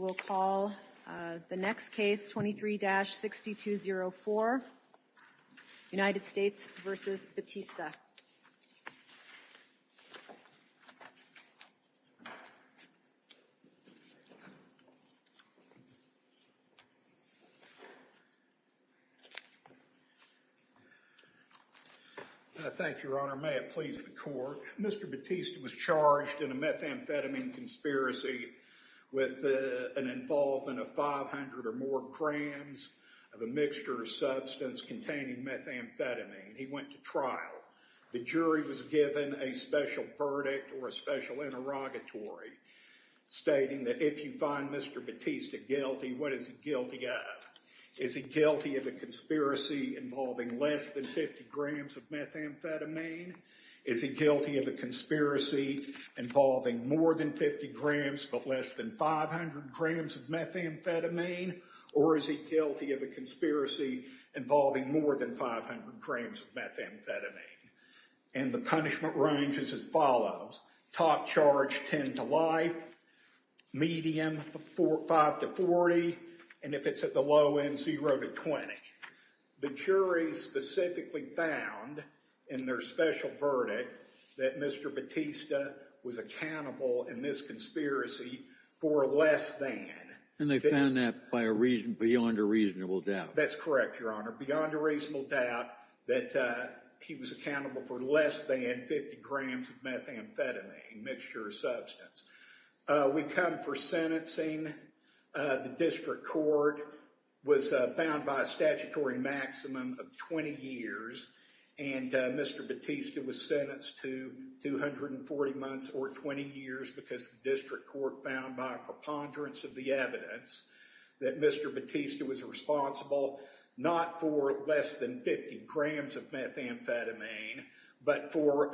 May it please the court, Mr. Batista was charged in a methamphetamine conspiracy with an involvement of 500 or more grams of a mixture of substance containing methamphetamine. He went to trial. The jury was given a special verdict or a special interrogatory stating that if you find Mr. Batista guilty, what is he guilty of? Is he guilty of a conspiracy involving less than 50 grams of methamphetamine? Is he guilty of a conspiracy involving more than 50 grams but less than 500 grams of methamphetamine? Or is he guilty of a conspiracy involving more than 500 grams of methamphetamine? And the punishment range is as follows. Top charge 10 to life, medium 5 to 40, and if it's at the low end, 0 to 20. The jury specifically found in their special verdict that Mr. Batista was accountable in this conspiracy for less than. And they found that by a reason beyond a reasonable doubt. That's correct, your honor. Beyond a reasonable doubt that he was accountable for less than 50 grams of methamphetamine mixture of substance. We come for sentencing. The district court was found by a statutory maximum of 20 years. And Mr. Batista was sentenced to 240 months or 20 years because the district court found by a preponderance of the evidence that Mr. Batista was responsible not for less than 50 grams of methamphetamine, but for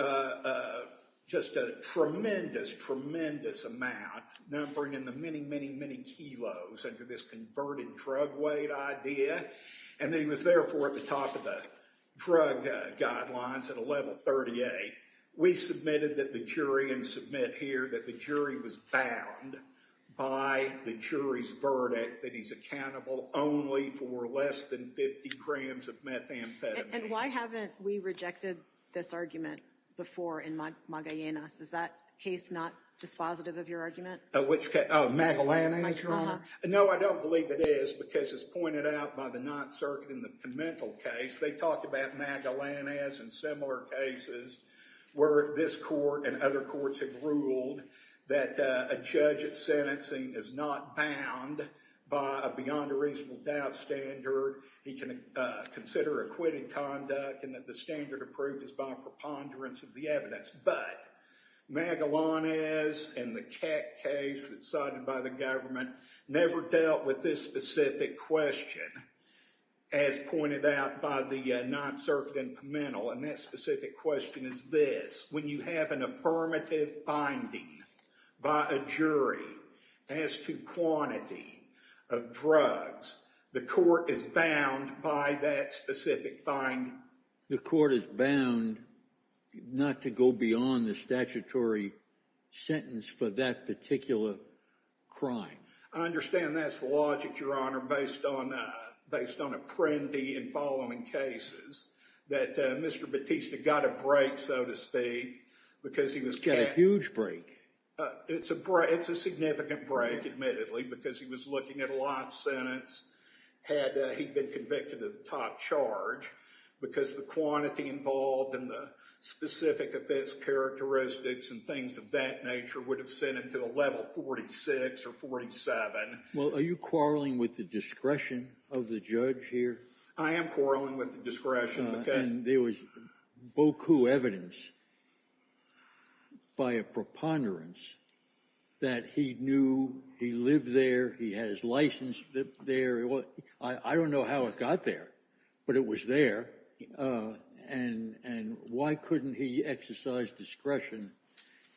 just a tremendous, tremendous amount numbering in the many, many, many kilos under this converted drug weight idea. And he was therefore at the top of the drug guidelines at a level 38. We submitted that the jury and submit here that the jury was bound by the jury's verdict that he's accountable only for less than 50 grams of methamphetamine. And why haven't we rejected this argument before in Magallanes? Is that case not dispositive of your argument? Which case? Oh, Magallanes, your honor. No, I don't believe it is because it's pointed out by the Ninth Circuit in the Pimentel case. They talked about Magallanes and similar cases where this court and other courts have ruled that a judge at sentencing is not bound by a beyond a reasonable doubt standard. He can consider acquitted conduct and that the standard of proof is by preponderance of the evidence. But Magallanes and the Keck case that's cited by the government never dealt with this specific question as pointed out by the Ninth Circuit in Pimentel. And that specific question is this. When you have an affirmative finding by a jury as to quantity of drugs, the court is bound by that specific finding. The court is bound not to go beyond the statutory sentence for that particular crime. I understand that's the logic, your honor, based on based on Apprendi and following cases that Mr. Battista got a break, so to speak, because he was a huge break. It's a significant break, admittedly, because he was looking at a lot sentence had he been convicted of top charge because the quantity involved and the specific offense characteristics and things of that nature would have sent him to a level 46 or 47. Well, are you quarreling with the discretion of the judge here? I am quarreling with the discretion. And there was evidence by a preponderance that he knew he lived there. He has license there. I don't know how it got there, but it was there. And why couldn't he exercise discretion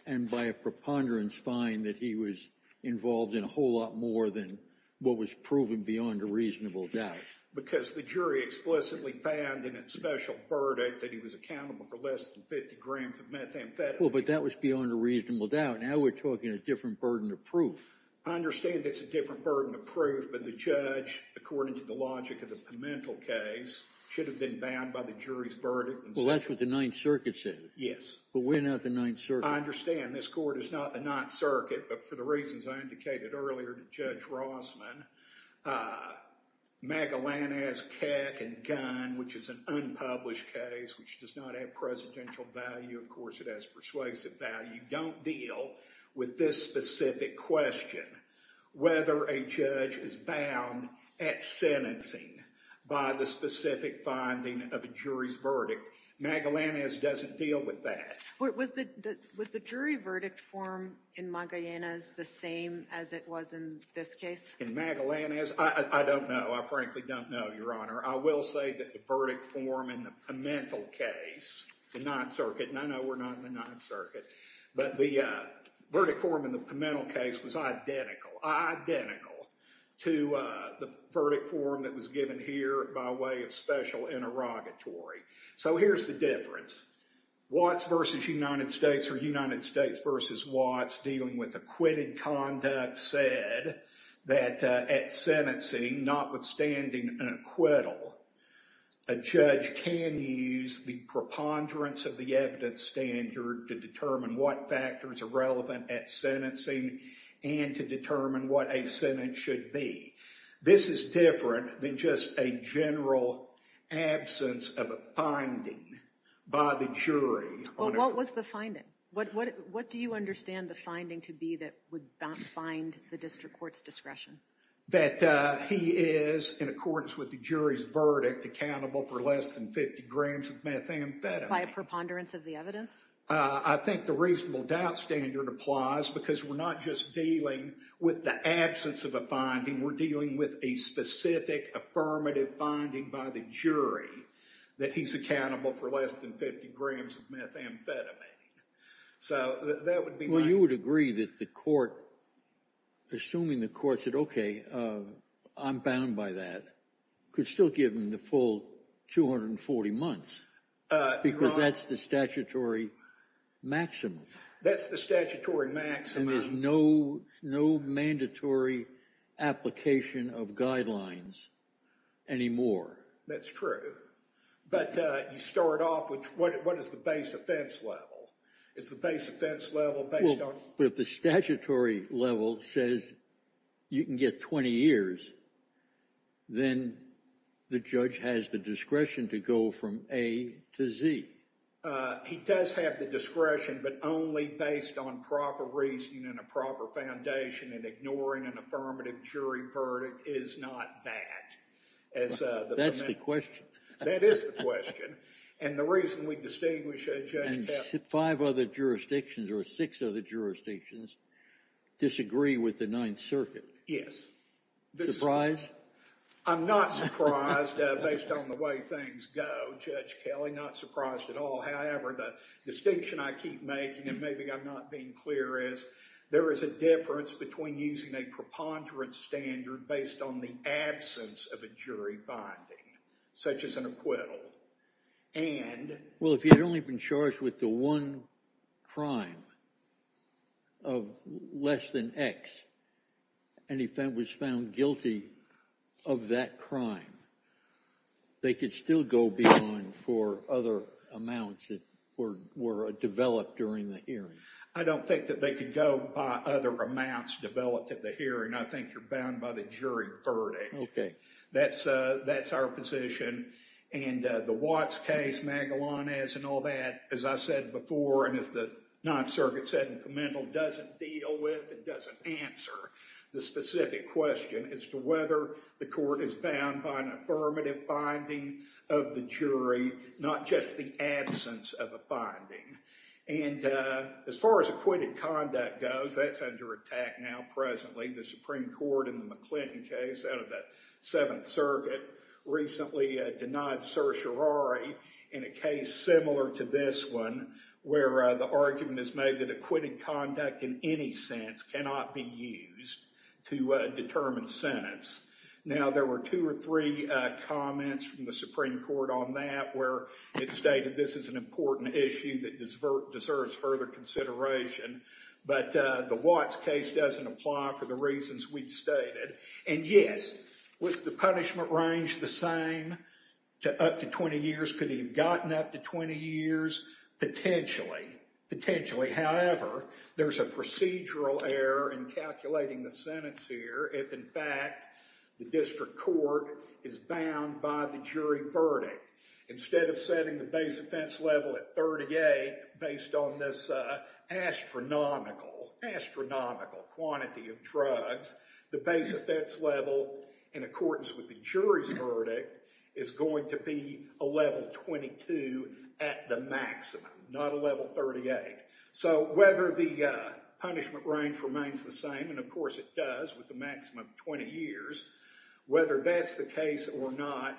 and by a preponderance find that he was involved in a whole lot more than what was proven beyond a reasonable doubt? Because the jury explicitly found in its special verdict that he was accountable for less than 50 grams of methamphetamine. Well, but that was beyond a reasonable doubt. Now we're talking a different burden of proof. I understand it's a different burden of proof, but the judge, according to the logic of the Pimentel case, should have been bound by the jury's verdict. Well, that's what the Ninth Circuit said. Yes. But we're not the Ninth Circuit. I understand this court is not Ninth Circuit, but for the reasons I indicated earlier to Judge Rossman, Magellanez, Keck, and Gunn, which is an unpublished case, which does not have presidential value. Of course, it has persuasive value, don't deal with this specific question, whether a judge is bound at sentencing by the specific finding of a jury's verdict. Magellanez doesn't deal with that. Was the jury verdict form in Magellanez the same as it was in this case? In Magellanez, I don't know. I frankly don't know, Your Honor. I will say that the verdict form in the Pimentel case, the Ninth Circuit, and I know we're not in the Ninth Circuit, but the verdict form in the Pimentel case was identical, identical to the verdict form that was given here by way of special interrogatory. So here's the difference. Watts v. United States or United States v. Watts dealing with acquitted conduct said that at sentencing, notwithstanding an acquittal, a judge can use the preponderance of the evidence standard to determine what factors are relevant at sentencing and to determine what a sentence should be. This is different than just a general absence of a finding by the jury. Well, what was the finding? What do you understand the finding to be that would bind the district court's discretion? That he is, in accordance with the jury's verdict, accountable for less than 50 grams of methamphetamine. By a preponderance of the I think the reasonable doubt standard applies because we're not just dealing with the absence of a finding. We're dealing with a specific affirmative finding by the jury that he's accountable for less than 50 grams of methamphetamine. So that would be my... Well, you would agree that the court, assuming the court said, okay, I'm bound by that, could still give him the full 240 months because that's the statutory maximum. That's the statutory maximum. And there's no mandatory application of guidelines anymore. That's true. But you start off with what is the base offense level? Is the base offense level But if the statutory level says you can get 20 years, then the judge has the discretion to go from A to Z. He does have the discretion, but only based on proper reasoning and a proper foundation, and ignoring an affirmative jury verdict is not that. That's the question. That is the question. And the reason we distinguish a judge... Five other jurisdictions or six other jurisdictions disagree with the Ninth Circuit. Yes. I'm not surprised based on the way things go, Judge Kelly. Not surprised at all. However, the distinction I keep making, and maybe I'm not being clear, is there is a difference between using a preponderance standard based on the absence of a jury finding, such as an acquittal, and... If he had only been charged with the one crime of less than X, and he was found guilty of that crime, they could still go beyond for other amounts that were developed during the hearing. I don't think that they could go by other amounts developed at the hearing. I think you're bound by the jury verdict. Okay. That's our position. And the Watts case, Magellanes and all that, as I said before, and as the Ninth Circuit said in commental, doesn't deal with and doesn't answer the specific question as to whether the court is bound by an affirmative finding of the jury, not just the absence of a finding. And as far as acquitted conduct goes, that's under attack now presently. The Supreme Court in the McClinton case out of the Seventh Circuit recently denied certiorari in a case similar to this one, where the argument is made that acquitted conduct in any sense cannot be used to determine sentence. Now, there were two or three comments from the Supreme Court on that where it stated this is an important issue that deserves further consideration, but the Watts case doesn't apply for the reasons we've stated. And yes, was the punishment range the same to up to 20 years? Could he have gotten up to 20 years? Potentially. Potentially. However, there's a procedural error in calculating the sentence here if, in fact, the district court is bound by the jury verdict. Instead of setting the base offense level at 38, based on this astronomical, astronomical quantity of drugs, the base offense level, in accordance with the jury's verdict, is going to be a level 22 at the maximum, not a level 38. So whether the punishment range remains the same, and of course it does with maximum 20 years, whether that's the case or not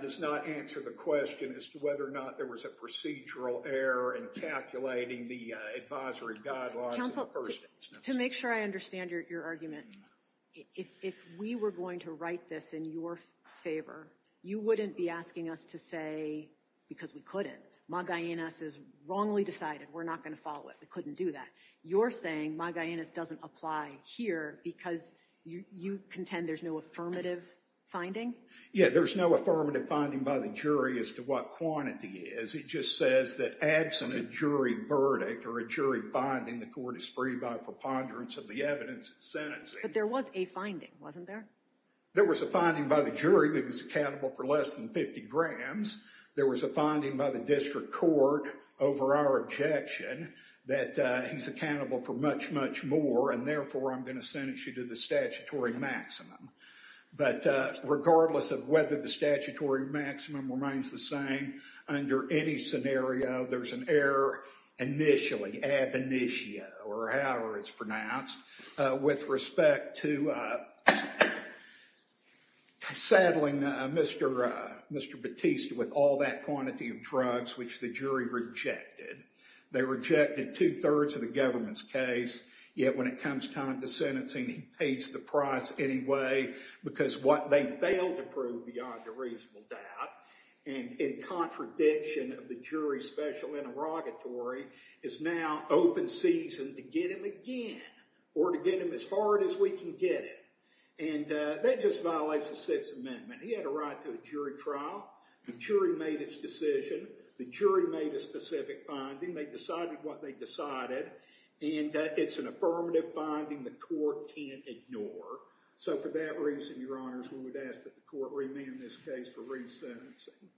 does not answer the question as to whether or not there was a procedural error in calculating the advisory guidelines in the first instance. To make sure I understand your argument, if we were going to write this in your favor, you wouldn't be asking us to say because we couldn't. Magallanes is wrongly decided. We're not going to follow it. We couldn't do that. You're saying Magallanes doesn't apply here because you contend there's no affirmative finding? Yeah, there's no affirmative finding by the jury as to what quantity is. It just says that absent a jury verdict or a jury finding, the court is free by preponderance of the evidence and sentencing. But there was a finding, wasn't there? There was a finding by the jury that he's accountable for less than 50 grams. There was a finding by the district court over our objection that he's accountable for much, much more, and therefore I'm going to sentence you to the statutory maximum. But regardless of whether the statutory maximum remains the same under any scenario, there's an error initially, ab initio, or however it's pronounced, with respect to saddling Mr. Battista with all that quantity of drugs which the jury rejected. They rejected two-thirds of the government's case, yet when it comes time to sentencing, he pays the price anyway because what they failed to prove beyond a reasonable doubt and in contradiction of the jury's special interrogatory is now open season to get him again or to get him as hard as we can get him. And that just violates the Sixth Amendment. He had a right to a jury trial. The jury made its decision. The jury made a specific finding. They decided what they decided, and it's an affirmative finding the court can't ignore. So for that reason, Your Honors, we would ask that the court remand this case for resentencing.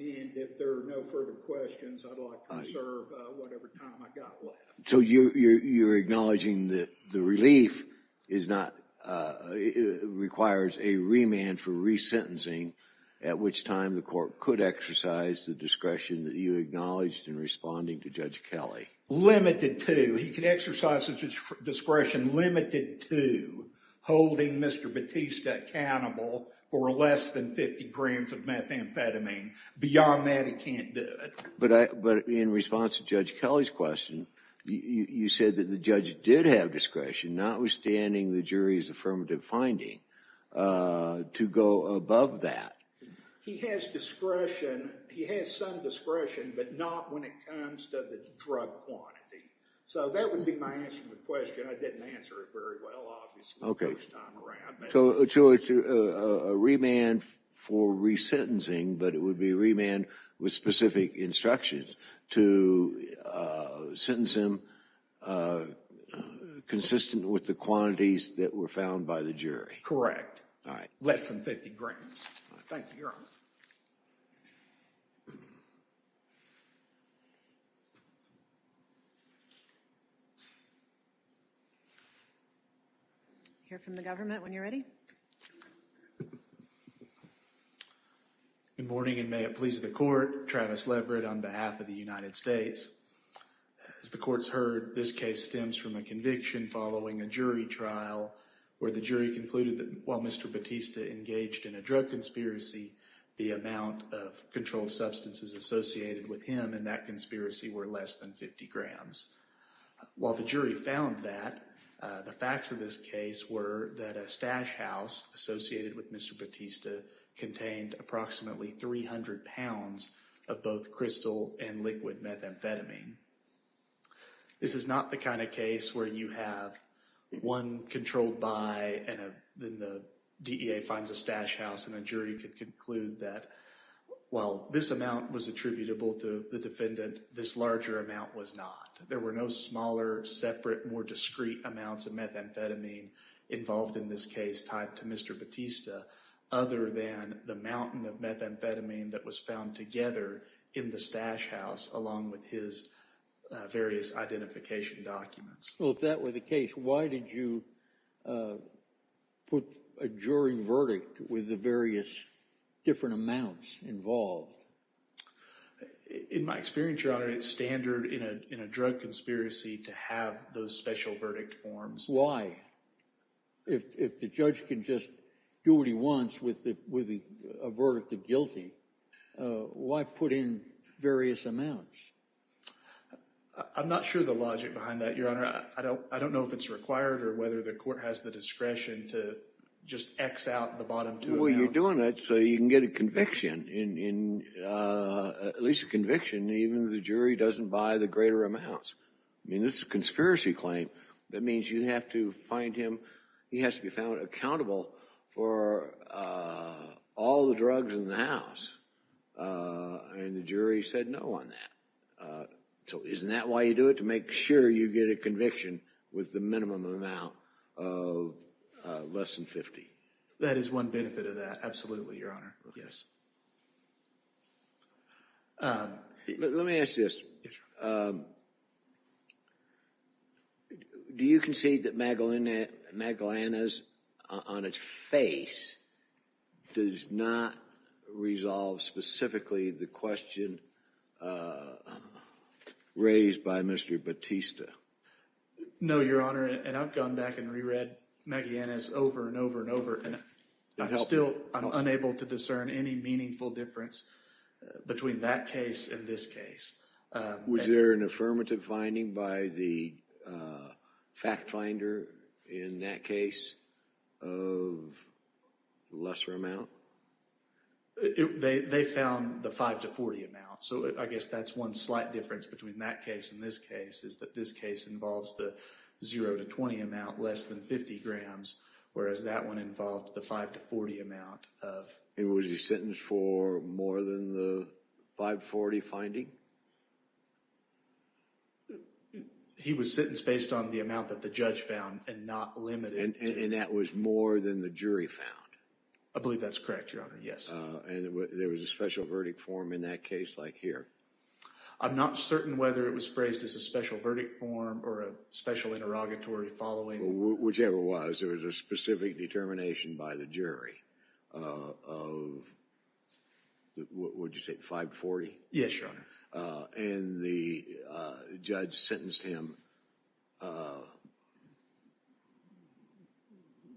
And if there are no further questions, I'd like to reserve whatever time I got left. So you're acknowledging that the relief is not, requires a remand for resentencing, at which time the court could exercise the discretion that you acknowledged in responding to Judge Kelly? Limited to. He could exercise his discretion limited to holding Mr. Battista accountable for less than 50 grams of methamphetamine. Beyond that, he can't do it. But in response to Judge Kelly's question, you said that the judge did have discretion, notwithstanding the jury's affirmative finding, to go above that. He has discretion. He has some discretion, but not when it comes to the drug quantity. So that would be my answer to the question. I didn't answer it very well, obviously, most of the time around. So a remand for resentencing, but it would be a remand with specific instructions to sentence him consistent with the quantities that were found by the jury. Correct. All right. Less than 50 grams. Thank you, Your Honor. I'll hear from the government when you're ready. Good morning, and may it please the Court. Travis Leverett on behalf of the United States. As the Court's heard, this case stems from a conviction following a jury trial where the jury concluded that while Mr. Battista engaged in a drug conspiracy, the amount of controlled substances associated with him in that conspiracy were less than 50 grams. While the jury found that, the facts of this case were that a stash house associated with Mr. Battista contained approximately 300 pounds of both crystal and liquid methamphetamine. This is not the kind of case where you have one controlled by and then the DEA finds a stash house and the jury can conclude that while this amount was attributable to the defendant, this larger amount was not. There were no smaller, separate, more discreet amounts of methamphetamine involved in this case tied to Mr. Battista other than the mountain of methamphetamine that was found together in the stash house along with his various identification documents. So if that were the case, why did you put a jury verdict with the various different amounts involved? In my experience, Your Honor, it's standard in a drug conspiracy to have those special verdict forms. Why? If the judge can just do what he wants with a verdict of guilty, why put in various amounts? I'm not sure the logic behind that, Your Honor. I don't know if it's required or whether the court has the discretion to just X out the bottom two amounts. Well, you're doing it so you can get a conviction, at least a conviction, even if the jury doesn't buy the greater amounts. I mean, this is a conspiracy claim. That means you have to find him. He has to be found accountable for all the drugs in the house. And the jury said no on that. So isn't that why you do it? To make sure you get a conviction with the minimum amount of less than 50. That is one benefit of that. Absolutely, Your Honor. Yes. Let me ask this. Do you concede that Magdalena's, on its face, does not resolve specifically the question raised by Mr. Batista? No, Your Honor. And I've gone back and re-read Magdalena's over and over and over and I'm still unable to discern any meaningful difference between that case and this case. Was there an affirmative finding by the fact finder in that case of lesser amount? They found the 5 to 40 amount. So I guess that's one slight difference between that case and this case is that this case involves the 0 to 20 amount, less than 50 grams, whereas that one involved the 5 to 40 amount of... And was he sentenced for more than the 5 to 40 finding? He was sentenced based on the amount that the judge found and not limited... And that was more than the jury found? I believe that's correct, Your Honor. Yes. And there was a special verdict form in that case like here? I'm not certain whether it was phrased as a special verdict form or a special interrogatory following. Whichever it was, there was a specific determination by the jury of, what did you say, 5 to 40? Yes, Your Honor. And the judge sentenced him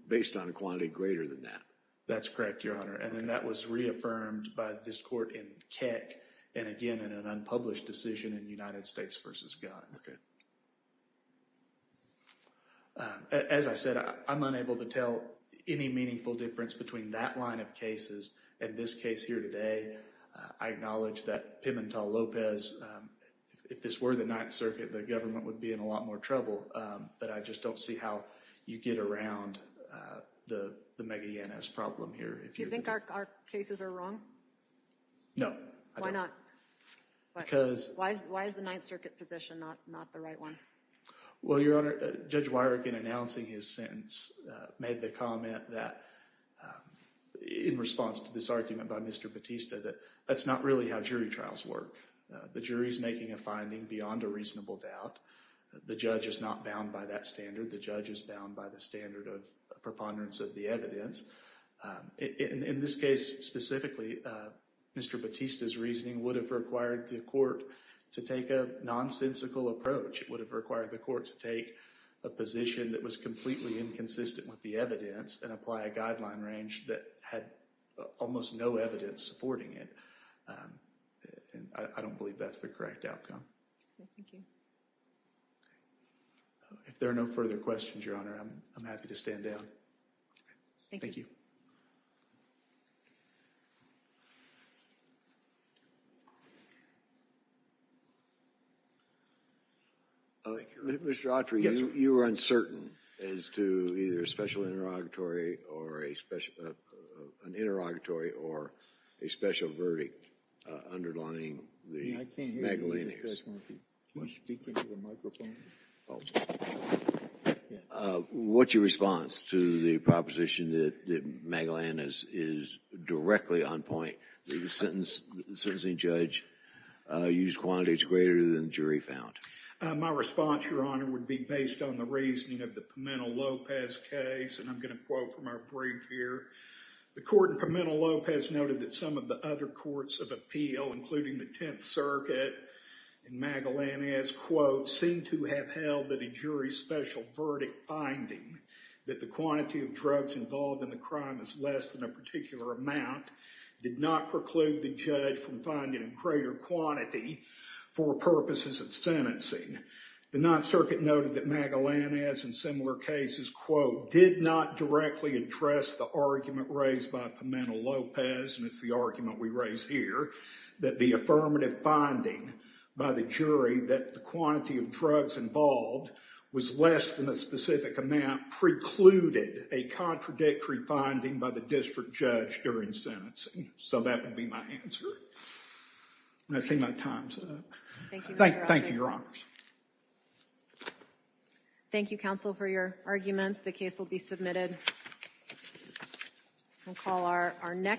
based on a quantity greater than that? That's correct, Your Honor. And then that was reaffirmed by this court in Keck and again in an unpublished decision in United States v. Gunn. As I said, I'm unable to tell any meaningful difference between that line of cases and this case here today. I acknowledge that Pimentel-Lopez, if this were the Ninth Circuit, the government would be in a lot more trouble. But I just don't see how you get around the mega-NS problem here. Do you think our cases are wrong? No, I don't. Why not? Because... Why is the Ninth Circuit position not the right one? Well, Your Honor, Judge Weirich, in announcing his sentence, made the comment that in response to this argument by Mr. Batista, that that's not really how jury trials work. The jury's making a finding beyond a reasonable doubt. The judge is not bound by that standard. The judge is bound by the standard of preponderance of the evidence. In this case specifically, Mr. Batista's reasoning would have required the court to take a nonsensical approach. It would have required the court to take a position that was completely inconsistent with the evidence and apply a guideline range that had almost no evidence supporting it. And I don't believe that's the correct outcome. Thank you. If there are no further questions, Your Honor, I'm happy to stand down. Thank you. Mr. Autry, you were uncertain as to either a special interrogatory or a special... I can't hear you, Judge Murphy. Can you speak into the microphone? What's your response to the proposition that Magellan is directly on point, that the sentencing judge used quantities greater than the jury found? My response, Your Honor, would be based on the reasoning of the Pimentel-Lopez case, and I'm going to quote from our brief here. The court in Pimentel-Lopez noted that some of the other courts of appeal, including the Tenth Circuit and Magellan, quote, seemed to have held that a jury's special verdict finding that the quantity of drugs involved in the crime is less than a particular amount did not preclude the judge from finding a greater quantity for purposes of sentencing. The Ninth Circuit noted that Magellan, as in similar cases, quote, did not directly address the argument raised by Pimentel-Lopez, and it's the argument we raise here, that the affirmative finding by the jury that the quantity of drugs involved was less than a specific amount precluded a contradictory finding by the district judge during sentencing. So that would be my answer. I see my time's up. Thank you, Your Honors. Thank you, counsel, for your arguments. The case will be submitted. We'll call our next.